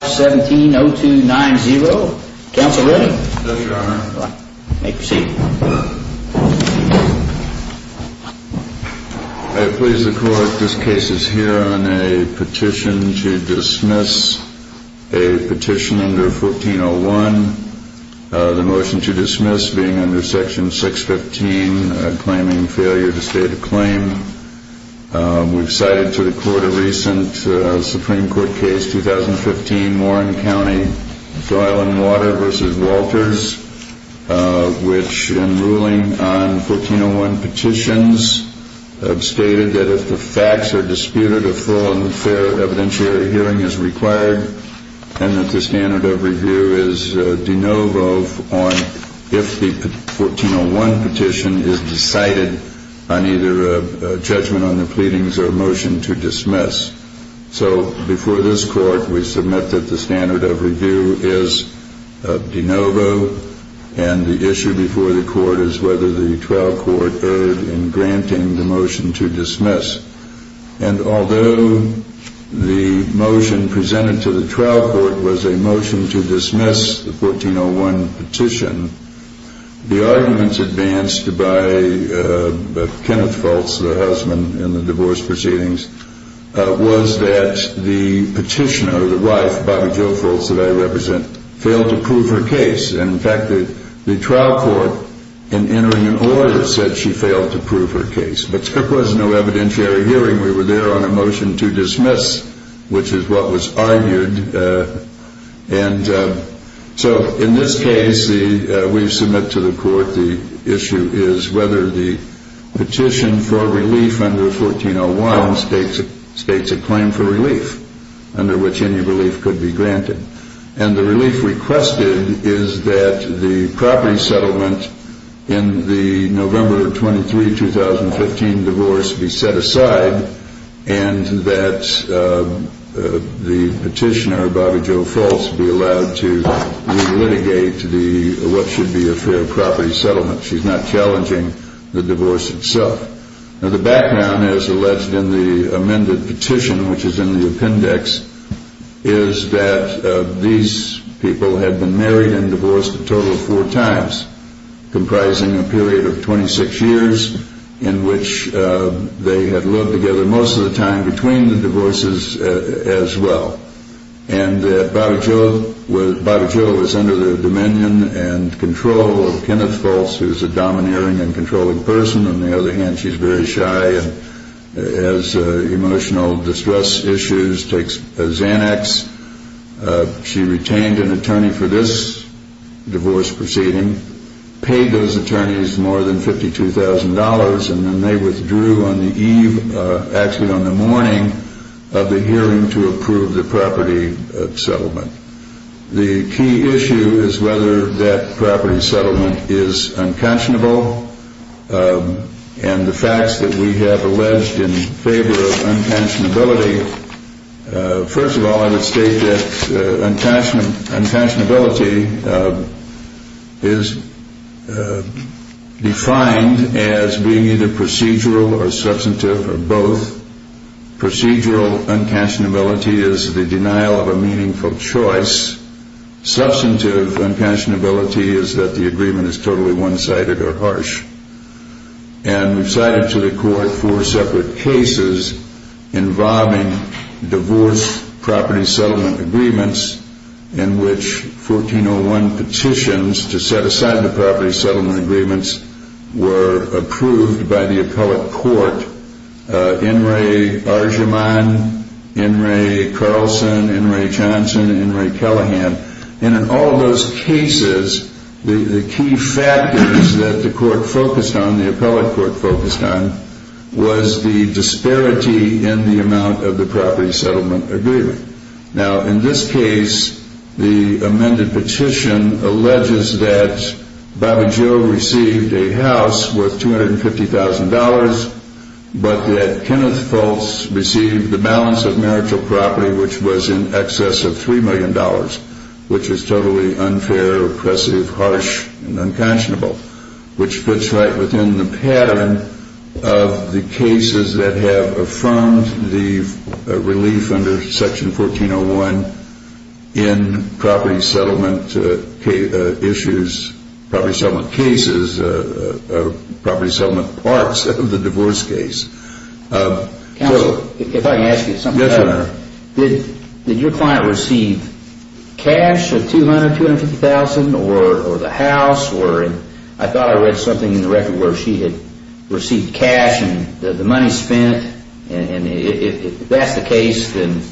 17-0290. Counsel ready? Yes, Your Honor. You may proceed. I please the Court, this case is here on a petition to dismiss. A petition under 14-01. The motion to dismiss being under section 615, claiming failure to state a claim. We've cited to the Court a recent Supreme Court case, 2015, Warren County, Doyle and Water v. Walters, which in ruling on 14-01 petitions, stated that if the facts are disputed, a thorough and fair evidentiary hearing is required, and that the standard of review is de novo on if the 14-01 petition is decided on either a judgment on the pleadings or a motion to dismiss. So before this Court, we submit that the standard of review is de novo, and the issue before the Court is whether the trial court erred in granting the motion to dismiss. And although the motion presented to the trial court was a motion to dismiss the 14-01 petition, the arguments advanced by Kenneth Fultz, the husband, in the divorce proceedings, was that the petitioner, the wife, Bobbie Jo Fultz, that I represent, failed to prove her case. In fact, the trial court, in entering an order, said she failed to prove her case. But there was no evidentiary hearing. We were there on a motion to dismiss, which is what was argued. And so in this case, we submit to the Court the issue is whether the petition for relief under 14-01 states a claim for relief, under which any relief could be granted. And the relief requested is that the property 15 divorce be set aside and that the petitioner, Bobbie Jo Fultz, be allowed to re-litigate what should be a fair property settlement. She's not challenging the divorce itself. Now, the background, as alleged in the amended petition, which is in the appendix, is that these people had been married and divorced a total of four times, comprising a period of 26 years in which they had lived together most of the time between the divorces as well. And Bobbie Jo was under the dominion and control of Kenneth Fultz, who's a domineering and controlling person. On the other hand, she's very shy and has emotional distress issues, takes Xanax. She retained an attorney for this divorce proceeding, paid those attorneys more than $52,000, and then they withdrew on the eve, actually on the morning of the hearing to approve the property settlement. The key issue is whether that property settlement is unconscionable. And the facts that we have state that unconscionability is defined as being either procedural or substantive or both. Procedural unconscionability is the denial of a meaningful choice. Substantive unconscionability is that the agreement is totally one-sided or harsh. And we've cited to the court four separate cases involving divorce property settlement agreements in which 1401 petitions to set aside the property settlement agreements were approved by the appellate court. In re Argymon, in re Carlson, in re Johnson, in re Callahan. And in all those cases, the key factors that the court focused on, the appellate court focused on, was the disparity in the amount of the property settlement agreement. Now, in this case, the amended petition alleges that Bobby Joe received a house worth $250,000, but that Kenneth Fultz received the balance of marital property, which was in excess of $3 million, which is totally unfair, oppressive, harsh, and unconscionable, which fits right within the pattern of the cases that have affirmed the relief under Section 1401 in property settlement issues, property settlement cases, property settlement parts of the divorce case. Counsel, if I can ask you something. Yes, Your Honor. Did your client receive cash of $200,000, $250,000, or the house, or I thought I read something in the record where she had received cash and the money spent, and if that's the case, then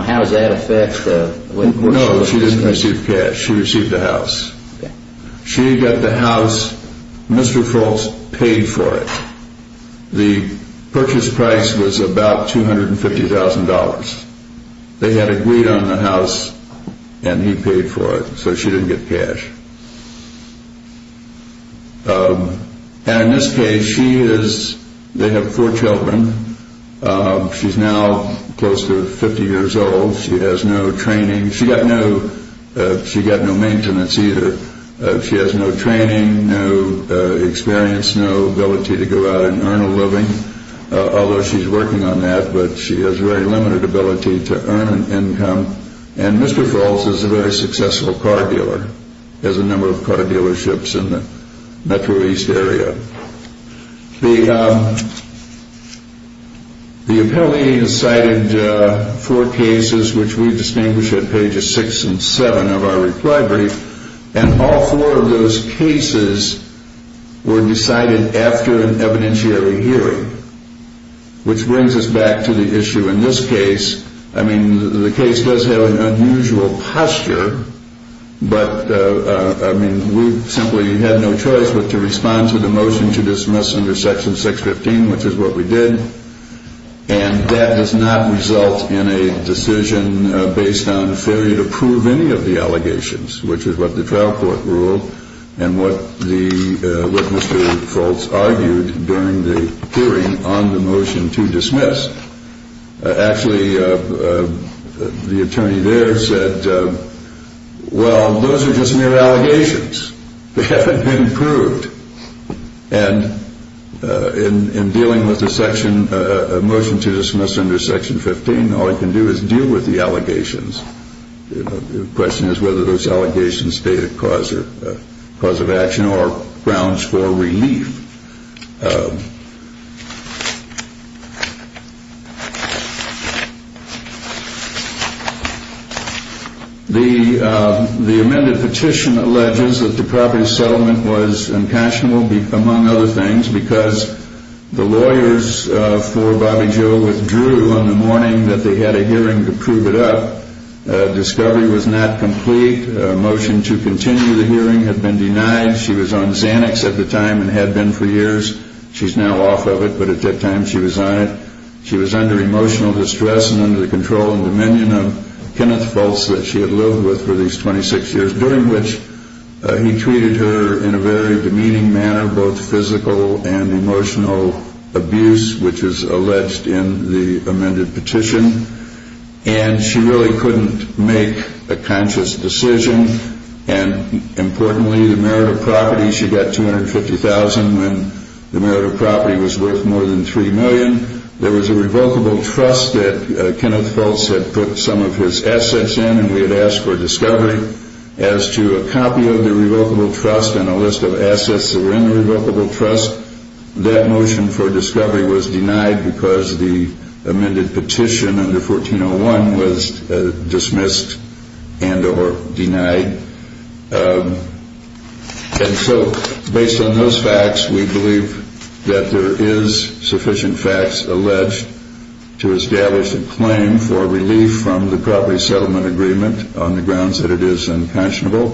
how does that affect the No, she didn't receive cash. She received the house. She got the purchase price was about $250,000. They had agreed on the house, and he paid for it, so she didn't get cash. And in this case, she is, they have four children. She's now close to 50 years old. She has no training. She got no maintenance either. She has no Although she's working on that, but she has very limited ability to earn an income, and Mr. Falls is a very successful car dealer, has a number of car dealerships in the Metro East area. The appellee has cited four cases, which we distinguish at pages six and seven of our reply brief, and all four of those cases were decided after an evidentiary hearing, which brings us back to the issue in this case. I mean, the case does have an unusual posture, but I mean, we simply had no choice but to respond to the motion to dismiss under Section 615, which is what we did, and that does not result in a decision based on any of the allegations, which is what the trial court ruled, and what Mr. Falls argued during the hearing on the motion to dismiss. Actually, the attorney there said, well, those are just mere allegations. They haven't been proved, and in dealing with the motion to dismiss, the question is whether those allegations are a cause of action or grounds for relief. The amended petition alleges that the property settlement was impassionable, among other things, because the lawyers for Bobby Joe withdrew on the morning that they had a hearing to prove it up. Discovery was not complete. Motion to continue the hearing had been denied. She was on Xanax at the time and had been for years. She's now off of it, but at that time she was on it. She was under emotional distress and under the control and dominion of Kenneth Falls that she had lived with for these 26 years, during which he treated her in a very demeaning manner, both physical and emotional abuse, which is alleged in the amended petition, and she really couldn't make a conscious decision. Importantly, the merit of property, she got $250,000 when the merit of property was worth more than $3 million. There was a revocable trust that Kenneth Falls had put some of his assets in and we had asked for discovery. As to a copy of the revocable trust and a list of assets that were in the revocable trust, that motion for discovery was denied because the amended petition under 1401 was dismissed and or denied. And so based on those facts, we believe that there is sufficient facts in agreement on the grounds that it is unconscionable.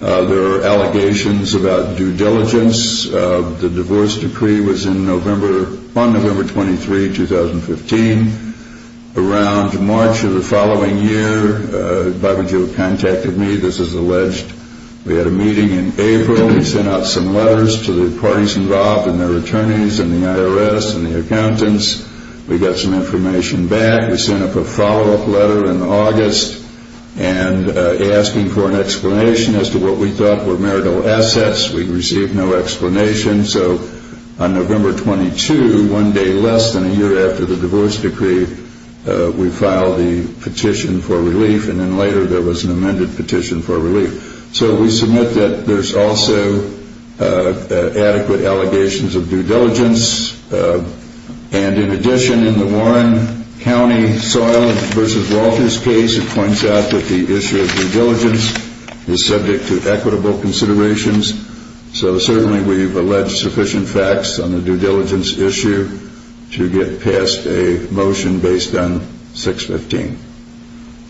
There are allegations about due diligence. The divorce decree was in November, on November 23, 2015. Around March of the following year, Barbara Jo contacted me. This is alleged. We had a meeting in April. We sent out some letters to the parties involved and their attorneys and the IRS and the accountants. We got some information back. We sent up a follow-up letter in August and asking for an explanation as to what we thought were marital assets. We received no explanation. So on November 22, one day less than a year after the divorce decree, we filed the petition for relief and then later there was an amended petition for relief. So we submit that there's also adequate allegations of due diligence. And in addition, in the Warren County Soylent v. Walters case, it points out that the issue of due diligence is subject to equitable considerations. So certainly we've alleged sufficient facts on the due diligence issue to get past a motion based on 615.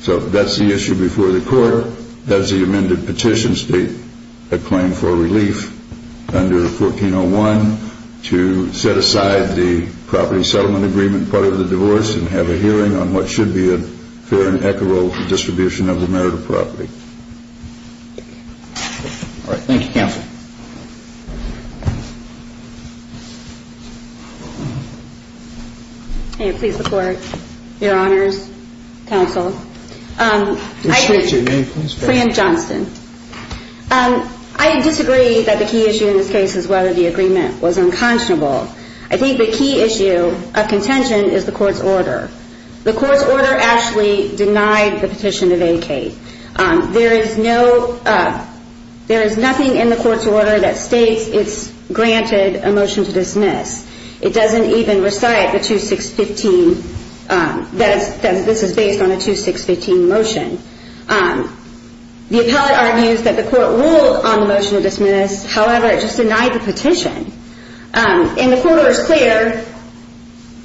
So that's the issue before the court. That's the amended petition state a claim for relief under 1401 to set aside the property settlement agreement part of the divorce and have a hearing on what should be a fair and equitable distribution of the marital property. Thank you, Counsel. I disagree that the key issue in this case is whether the agreement was unconscionable. I think the key issue of contention is the court's order. The court's order actually denied the petition to vacate. There is no, there is nothing in the court's order that says that the court's order that states it's granted a motion to dismiss. It doesn't even recite the 2615, that this is based on a 2615 motion. The appellate argues that the court ruled on the motion to dismiss. However, it just denied the petition. And the court order is clear.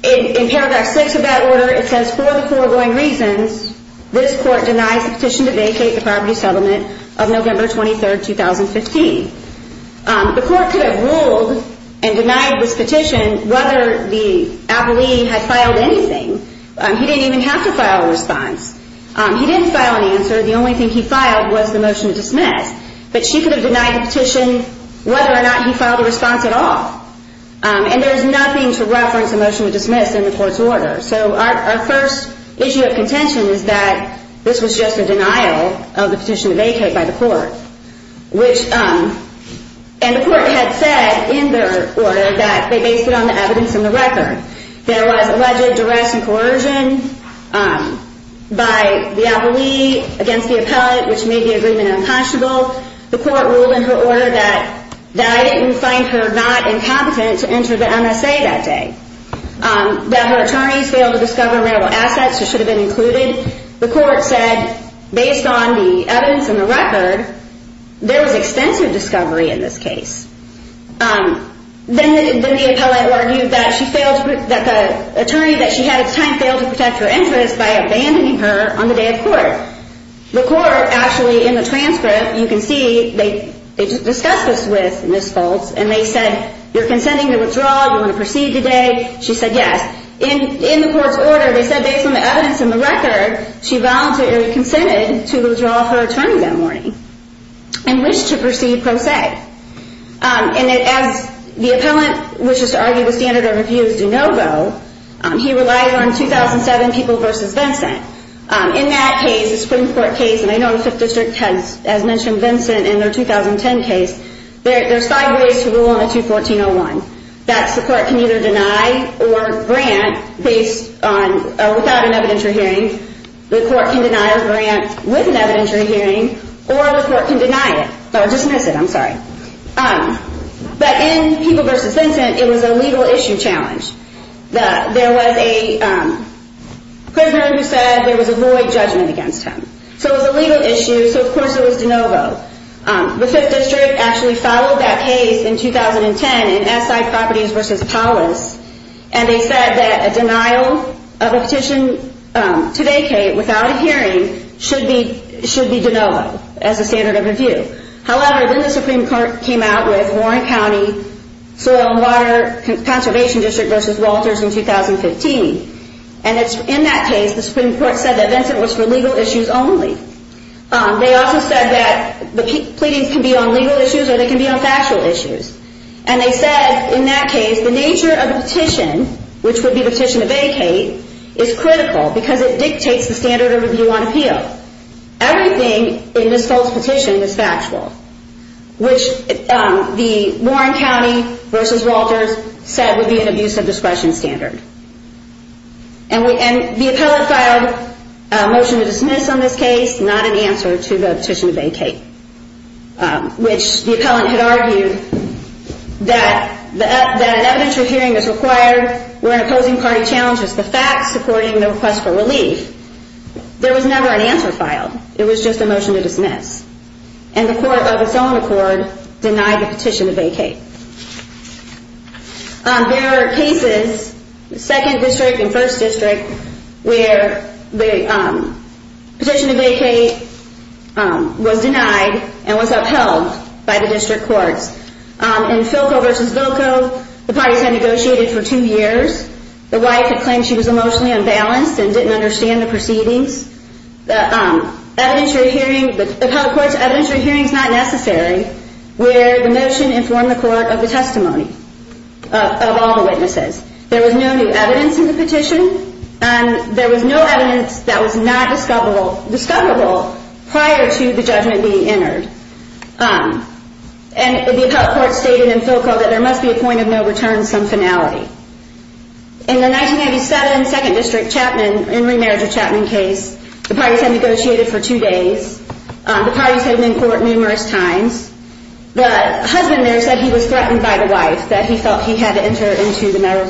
In paragraph 6 of that order, it says for the foregoing reasons, this court denies the petition to vacate the property settlement of November 23rd, 2015. The court could have ruled and denied this petition whether the appellee had filed anything. He didn't even have to file a response. He didn't file an answer. The only thing he filed was the motion to dismiss. But she could have denied the petition whether or not he filed a response at all. And there is nothing to reference a motion to dismiss in the court's order. So our first issue of contention is that this was just a denial of the petition to vacate by the court. And the court had said in their order that they based it on the evidence in the record. There was alleged duress and coercion by the appellee against the appellate, which made the agreement unpunishable. The court ruled in her order that I didn't find her not incompetent to enter the MSA that day. That her attorneys failed to discover rare assets that should have been included. The court said based on the evidence in the record, there was extensive discovery in this case. Then the appellate argued that the attorney that she had at the time failed to protect her interests by abandoning her on the day of court. The court actually in the transcript, you can see, they discussed this with Ms. Foltz and they said, you're consenting to withdraw, you want to proceed today. She said yes. In the court's order, they said based on the evidence in the record, she voluntarily consented to withdraw her attorney that morning and wished to proceed pro se. And as the appellant wishes to argue the standard of review is do no go, he relied on 2007 People v. Vincent. In that case, the Supreme Court case, and I know the 5th District has mentioned Vincent in their 2010 case, there's five ways to rule on a 214-01. That's the court can either deny or grant based on, without an evidentiary hearing, the court can deny or grant with an evidentiary hearing, or the court can deny it, or dismiss it, I'm sorry. But in People v. Vincent, it was a legal issue challenge. There was a prisoner who said there was a void judgment against him. So it was a legal issue, so of course it was do no go. The 5th District actually followed that case in 2010 in Asside Properties v. Paulus and they said that a denial of a petition to vacate without a hearing should be do no go as a standard of review. However, then the Supreme Court came out with Warren County Soil and Water Conservation District v. Walters in 2015. And in that case, the Supreme Court said that Vincent was for legal issues only. They also said that the pleadings can be on legal issues or they can be on factual issues. And they said in that case, the nature of the petition, which would be the petition to vacate, is critical because it dictates the standard of review on appeal. Everything in this false petition is factual, which the Warren County v. Walters said would be an abuse of discretion standard. And the appellant filed a motion to dismiss on this case, not an answer to the petition to vacate, which the district where an opposing party challenges the facts supporting the request for relief. There was never an answer filed. It was just a motion to dismiss. And the court of its own accord denied the petition to vacate. There are cases, 2nd District and 1st District, where the petition to vacate was denied and was upheld by the district courts. In Philco v. Vilco, the parties had negotiated for 2 years. The wife had claimed she was emotionally unbalanced and didn't understand the proceedings. The appellate court's evidentiary hearing is not necessary where the motion informed the court of the testimony of all the witnesses. There was no new evidence in the petition. There was no evidence that was not discoverable prior to the judgment being entered. And the appellate court stated in Philco that there must be a point of no return to some finality. In the 1997 2nd District Chapman and remarriage of Chapman case, the parties had negotiated for 2 days. The parties had been in court numerous times. The husband there said he was threatened by the wife, that he felt he had to enter into the matter of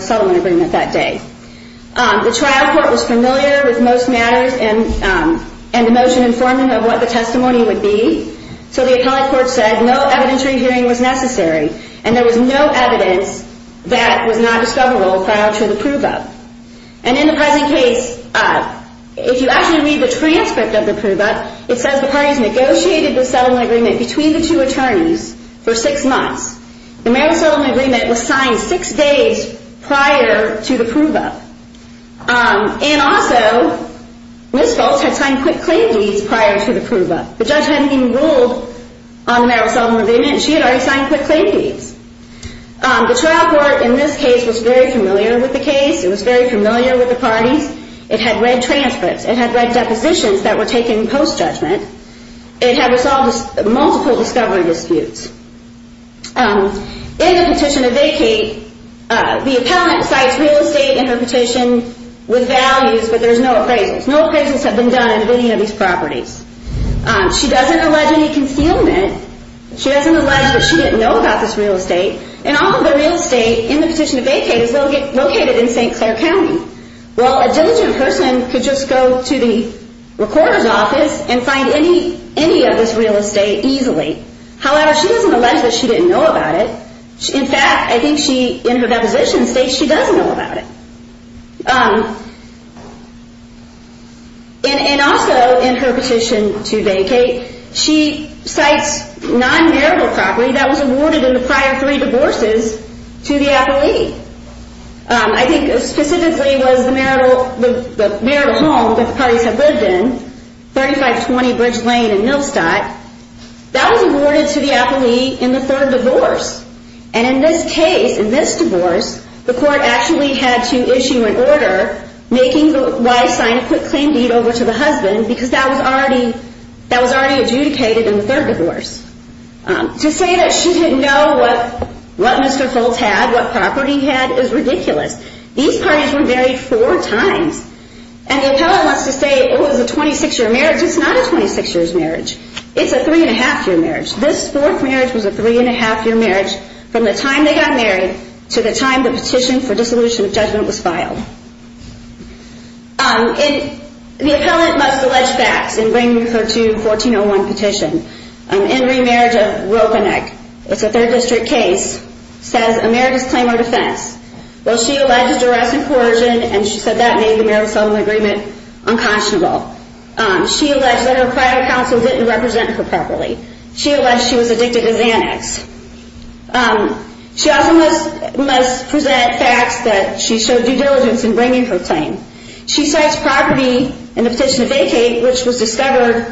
and the motion informed him of what the testimony would be. So the appellate court said no evidentiary hearing was necessary and there was no evidence that was not discoverable prior to the prove-up. And in the present case, if you actually read the transcript of the prove-up, it says the parties negotiated the settlement agreement between the 2 attorneys for 6 months. The marriage settlement agreement was signed 6 days prior to the prove-up. And also, Ms. Fultz had signed quick claim deeds prior to the prove-up. The judge hadn't even ruled on the marriage settlement agreement and she had already signed quick claim deeds. The trial court in this case was very familiar with the case. It was very familiar with the parties. It had read transcripts. It had read depositions that were taken post-judgment. It had resolved multiple discovery disputes. In the petition to vacate, the appellate cites real estate in her petition with values, but there's no appraisals. No appraisals have been done in any of these properties. She doesn't allege any concealment. She doesn't allege that she didn't know about this real estate. And all of the real estate in the petition to vacate is located in St. Clair County. Well, a diligent person could just go to the real estate easily. However, she doesn't allege that she didn't know about it. In fact, I think she, in her deposition states she does know about it. And also, in her petition to vacate, she cites non-marital property that was awarded in the prior three divorces to the appellate. I think specifically was the marital home that the parties had lived in, 3520 Bridge Lane in Millstock. That was awarded to the appellate in the third divorce. And in this case, in this divorce, the court actually had to issue an order making the wife sign a quick claim deed over to the husband because that was already adjudicated in the third divorce. To say that she didn't know what Mr. Foltz had, what the appellate wants to say, it was a 26-year marriage. It's not a 26-year marriage. It's a three-and-a-half-year marriage. This fourth marriage was a three-and-a-half-year marriage from the time they got married to the time the petition for dissolution of judgment was filed. The appellate must allege facts in bringing her to 1401 petition. In remarriage of Ropeneck, it's a third district case, says America's claim to her defense. Well, she alleges duress and coercion, and she said that made the marital settlement agreement unconscionable. She alleged that her private counsel didn't represent her properly. She alleged she was addicted as an ex. She also must present facts that she showed due diligence in bringing her claim. She cites property in the petition to vacate, which was discovered,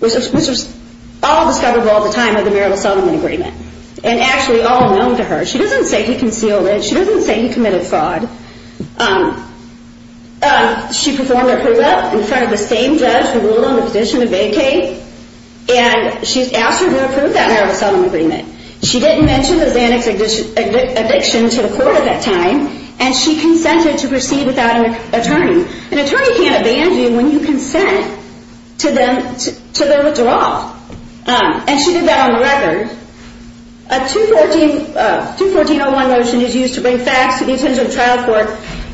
which was all discoverable at the time of the marital settlement agreement, and actually all known to her. She doesn't say he concealed it. She doesn't say he committed fraud. She performed approval in front of the same judge who ruled on the petition to vacate, and she asked her to approve that marital settlement agreement. She didn't mention the Xanax addiction to the court at that time, and she consented to proceed without an attorney. An attorney can't consent to their withdrawal, and she did that on record. A 214-01 motion is used to bring facts to the attention of trial court,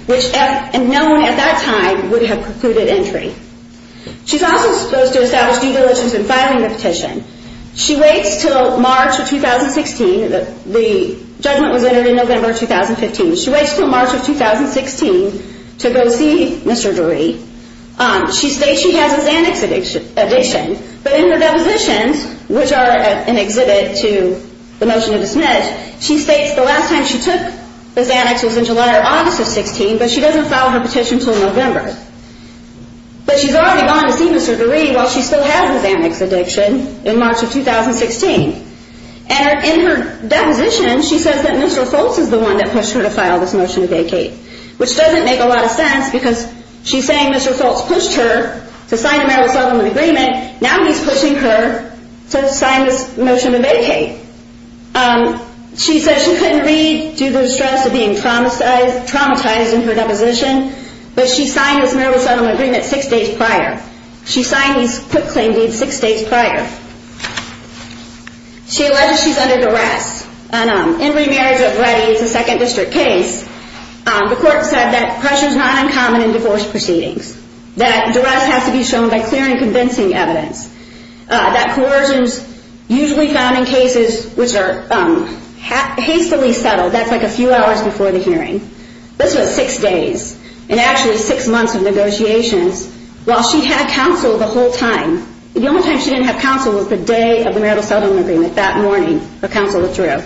which no one at that time would have precluded entry. She's also supposed to establish due diligence in filing the petition. She waits until March of 2016. The judgment was entered in November of 2015. She waits until March of 2016. She states she has a Xanax addiction, but in her depositions, which are an exhibit to the motion to dismiss, she states the last time she took the Xanax was in July or August of 16, but she doesn't file her petition until November. But she's already gone to see Mr. DeRee while she still has the Xanax addiction in March of 2016. And in her deposition, she says that Mr. Foltz is the one that pushed her to file this motion to vacate, which doesn't make a lot of sense because she's saying Mr. Foltz pushed her to sign a marital settlement agreement. Now he's pushing her to sign this motion to vacate. She says she couldn't read due to the stress of being traumatized in her deposition, but she signed this marital settlement agreement six days prior. She signed these quick claim deeds six days prior. She alleges she's under duress. In remarriage already, it's a second district case, the court said that pressure is not uncommon in divorce proceedings. That duress has to be shown by clear and convincing evidence. That coercion is usually found in cases which are hastily settled, that's like a few hours before the hearing. This was six days, and actually six months of negotiations. While she had counsel the whole time, the only time she didn't have counsel was the day of the marital settlement agreement, that morning, her counsel withdrew.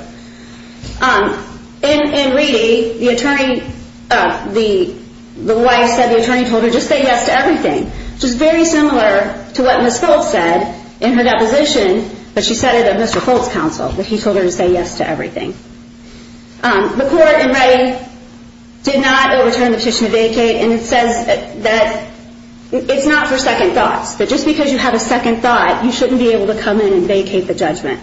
In Reedy, the wife said the attorney told her just say yes to everything, which is very similar to what Ms. Foltz said in her deposition, but she said it of Mr. Foltz's counsel, that he told her to say yes to everything. The court in Reedy did not overturn the petition to vacate, and it says that, it's not for second thoughts, but just because you have a second thought, you shouldn't be able to come in and vacate the judgment.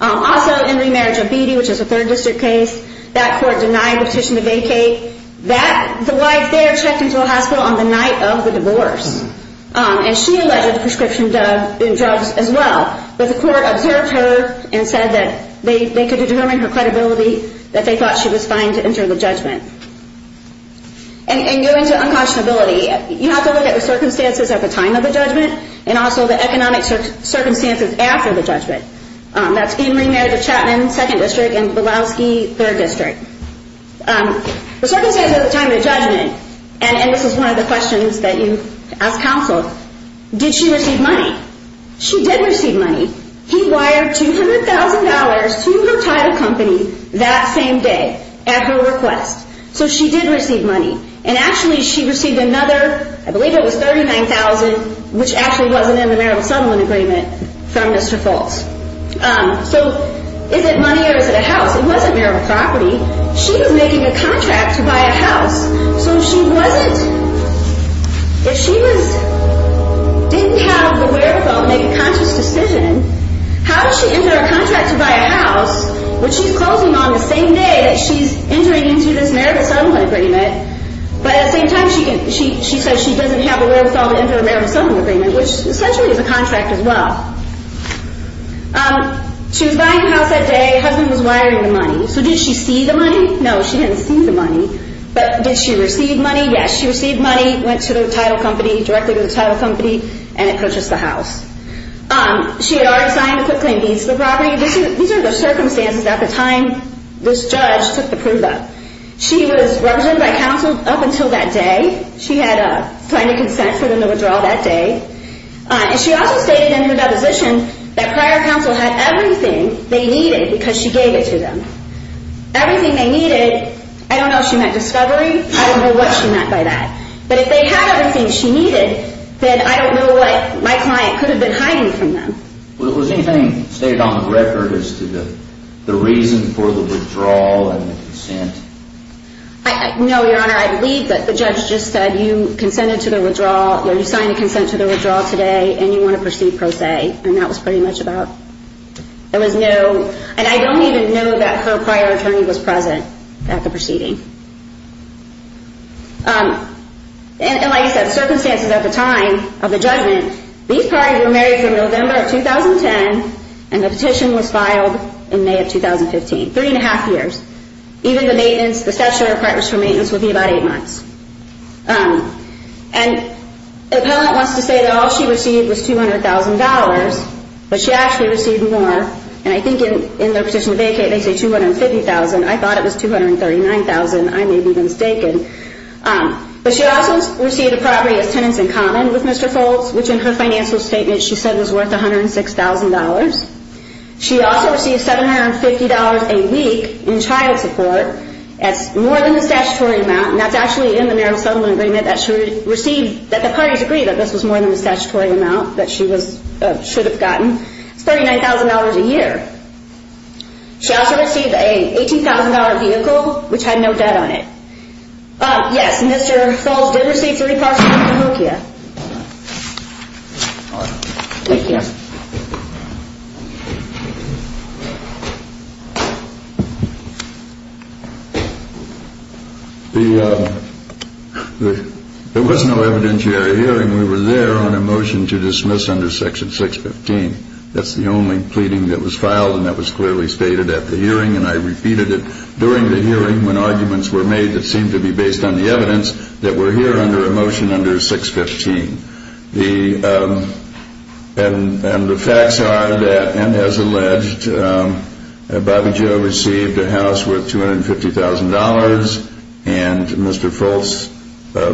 Also, in Remarriage of Beattie, which is a third district case, that court denied the petition to vacate. The wife there checked into a hospital on the night of the divorce, and she alleged prescription drugs as well, but the court observed her and said that they could determine her credibility, that they thought she was fine to enter the judgment. And going to uncautionability, you have to look at the circumstances at the time of the judgment, and also the economic circumstances after the judgment. That's in Remarriage of Chapman, second district, and Bilowski, third district. The circumstances at the time of the judgment, and this is one of the questions that you ask counsel, did she receive money? She did receive money. He wired $200,000 to her title company that same day at her request. So she did receive money, and actually she received another, I believe it was $39,000, which actually wasn't in the marital settlement agreement from Mr. Foltz. So is it money or is it a house? It wasn't marital property. She was making a contract to buy a house, so if she didn't have the wherewithal to make a conscious decision, how did she enter a contract to buy a house when she's closing on the same day that she's entering into this marital settlement agreement, but at the same time she says she doesn't have the wherewithal to enter a marital settlement agreement, which essentially is a contract as well. She was buying a house that day. Her husband was wiring the money. So did she see the money? No, she didn't see the money. But did she receive money? Yes, she received money, went to the title company, directly to the title company, and it purchased the house. She had already signed the clip claim deeds to the property. These are the circumstances at the time this judge took the proof up. She was represented by counsel up until that day. She had signed a consent for the withdrawal that day. She also stated in her deposition that prior counsel had everything they needed because she gave it to them. Everything they needed, I don't know if she meant discovery. I don't know what she meant by that. But if they had everything she needed, then I don't know what my client could have been hiding from them. Was anything stated on the record as to the reason for the withdrawal and the consent? No, Your Honor. I believe that the judge just said you consented to the withdrawal, you signed a consent to the withdrawal today, and you want to proceed pro se. And that was pretty much about it. And I don't even know that her prior attorney was present at the proceeding. And like I said, circumstances at the time of the judgment, these parties were married from November of 2010, and the petition was filed in May of 2015, three and a half years. Even the maintenance, the statutory requirements for maintenance would be about eight months. And the appellant wants to say that all she received was $200,000, but she actually received more. And I think in their petition to vacate they say $250,000. I thought it was $239,000. I may be mistaken. But she also received a property as tenants in common with Mr. Foltz, which in her financial statement she said was worth $106,000. She also received $750 a week in child support. That's more than the statutory amount, and that's actually in the marital settlement agreement that she received, that the parties agreed that this was more than the statutory amount that she should have gotten. It's $39,000 a year. She also received an $18,000 vehicle, which had no debt on it. Yes, Mr. Foltz did receive three parcels from Cahokia. Thank you. There was no evidentiary hearing. We were there on a motion to dismiss under Section 615. That's the only pleading that was filed, and that was clearly stated at the hearing, and I repeated it during the hearing when arguments were made that seemed to be based on the evidence that we're here under a motion under 615. And the facts are that, and as alleged, Bobbie Jo received a house worth $250,000 and Mr. Foltz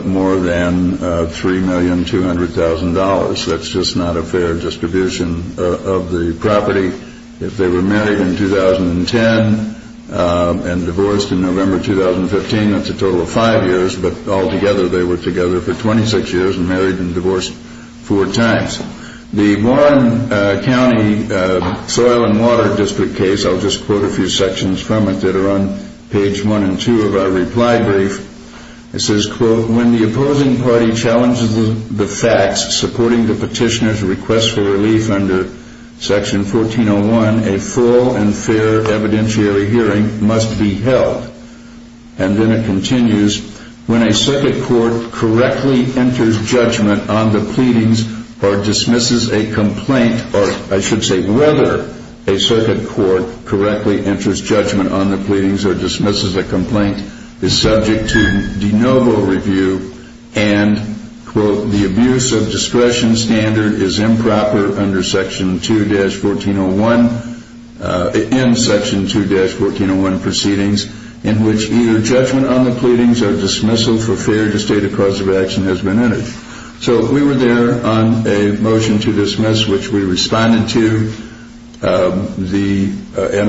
more than $3,200,000. That's just not a fair distribution of the property. If they were married in 2010 and divorced in November 2015, that's a total of five years, but altogether they were together for 26 years and married and divorced four times. The Warren County Soil and Water District case, I'll just quote a few sections from it that are on page one and two of our reply brief. It says, quote, when the opposing party challenges the facts supporting the petitioner's request for relief under Section 1401, a full and fair evidentiary hearing must be held. And then it continues, when a circuit court correctly enters judgment on the pleadings or dismisses a complaint, or I should say whether a circuit court correctly enters judgment on the pleadings or dismisses a complaint, is subject to de novo review and, quote, the abuse of discretion standard is improper under Section 2-1401, in Section 2-1401 proceedings, in which either judgment on the pleadings or dismissal for fear to state a cause of action has been entered. So we were there on a motion to dismiss, which we responded to.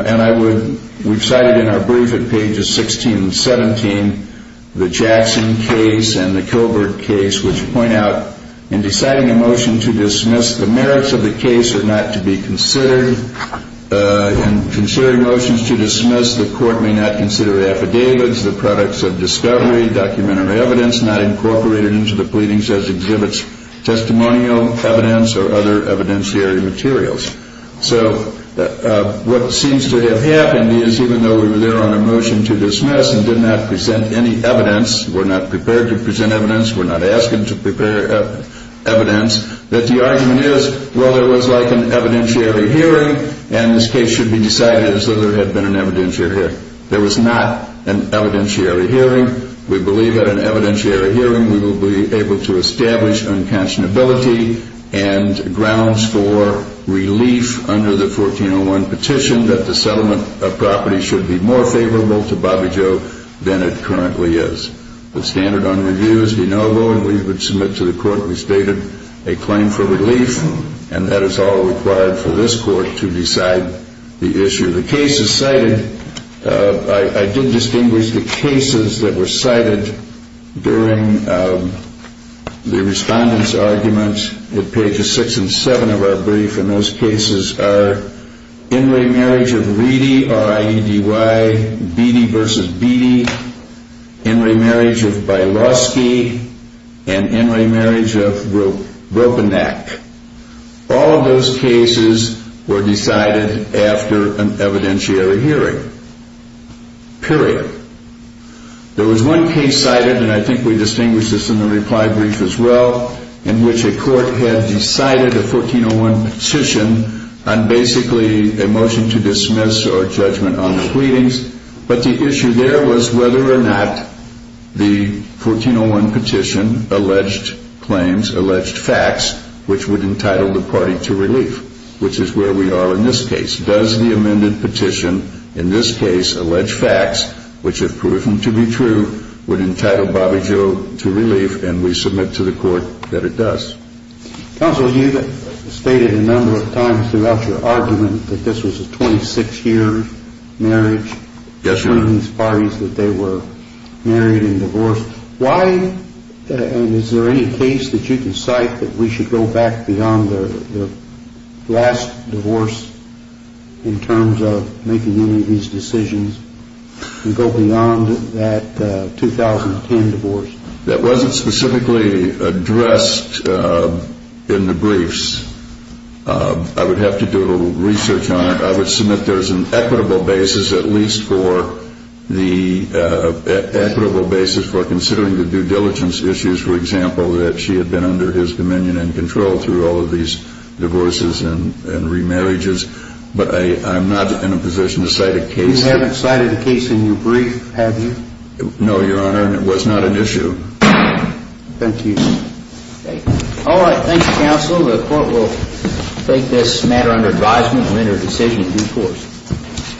And we've cited in our brief at pages 16 and 17 the Jackson case and the Kilberg case, which point out in deciding a motion to dismiss, the merits of the case are not to be considered. In considering motions to dismiss, the court may not consider affidavits, the products of discovery, documentary evidence not incorporated into the pleadings as exhibits testimonial evidence or other evidentiary materials. So what seems to have happened is even though we were there on a motion to dismiss and did not present any evidence, were not prepared to present evidence, were not asking to present evidence, that the argument is, well, there was like an evidentiary hearing, and this case should be decided as though there had been an evidentiary hearing. There was not an evidentiary hearing. We believe that an evidentiary hearing we will be able to establish unconscionability and grounds for relief under the 1401 petition that the settlement of property should be more favorable to Bobby Joe than it currently is. The standard on review is de novo, and we would submit to the court we stated a claim for relief, and that is all required for this court to decide the issue. The cases cited, I did distinguish the cases that were cited during the respondents' arguments at pages 6 and 7 of our brief, and those cases are In re Marriage of Reedy, R-I-E-D-Y, Beattie v. Beattie, In re Marriage of Bieloski, and In re Marriage of Broppinack. All of those cases were decided after an evidentiary hearing, period. There was one case cited, and I think we distinguished this in the reply brief as well, in which a court had decided a 1401 petition on basically a motion to dismiss or judgment on the pleadings, but the issue there was whether or not the 1401 petition alleged claims, alleged facts, which would entitle the party to relief, which is where we are in this case. Does the amended petition, in this case alleged facts, which have proven to be true, would entitle Bobby Joe to relief, and we submit to the court that it does. Counsel, you stated a number of times throughout your argument that this was a 26-year marriage. Yes, Your Honor. Between these parties that they were married and divorced. Why, and is there any case that you can cite that we should go back beyond their last divorce in terms of making any of these decisions and go beyond that 2010 divorce? That wasn't specifically addressed in the briefs. I would have to do a little research on it. I would submit there is an equitable basis, at least for the equitable basis for considering the due diligence issues, for example, that she had been under his dominion and control through all of these divorces and remarriages, but I'm not in a position to cite a case. You haven't cited a case in your brief, have you? No, Your Honor, and it was not an issue. Thank you. All right. Thank you, Counsel. The court will take this matter under advisement and render a decision in due course.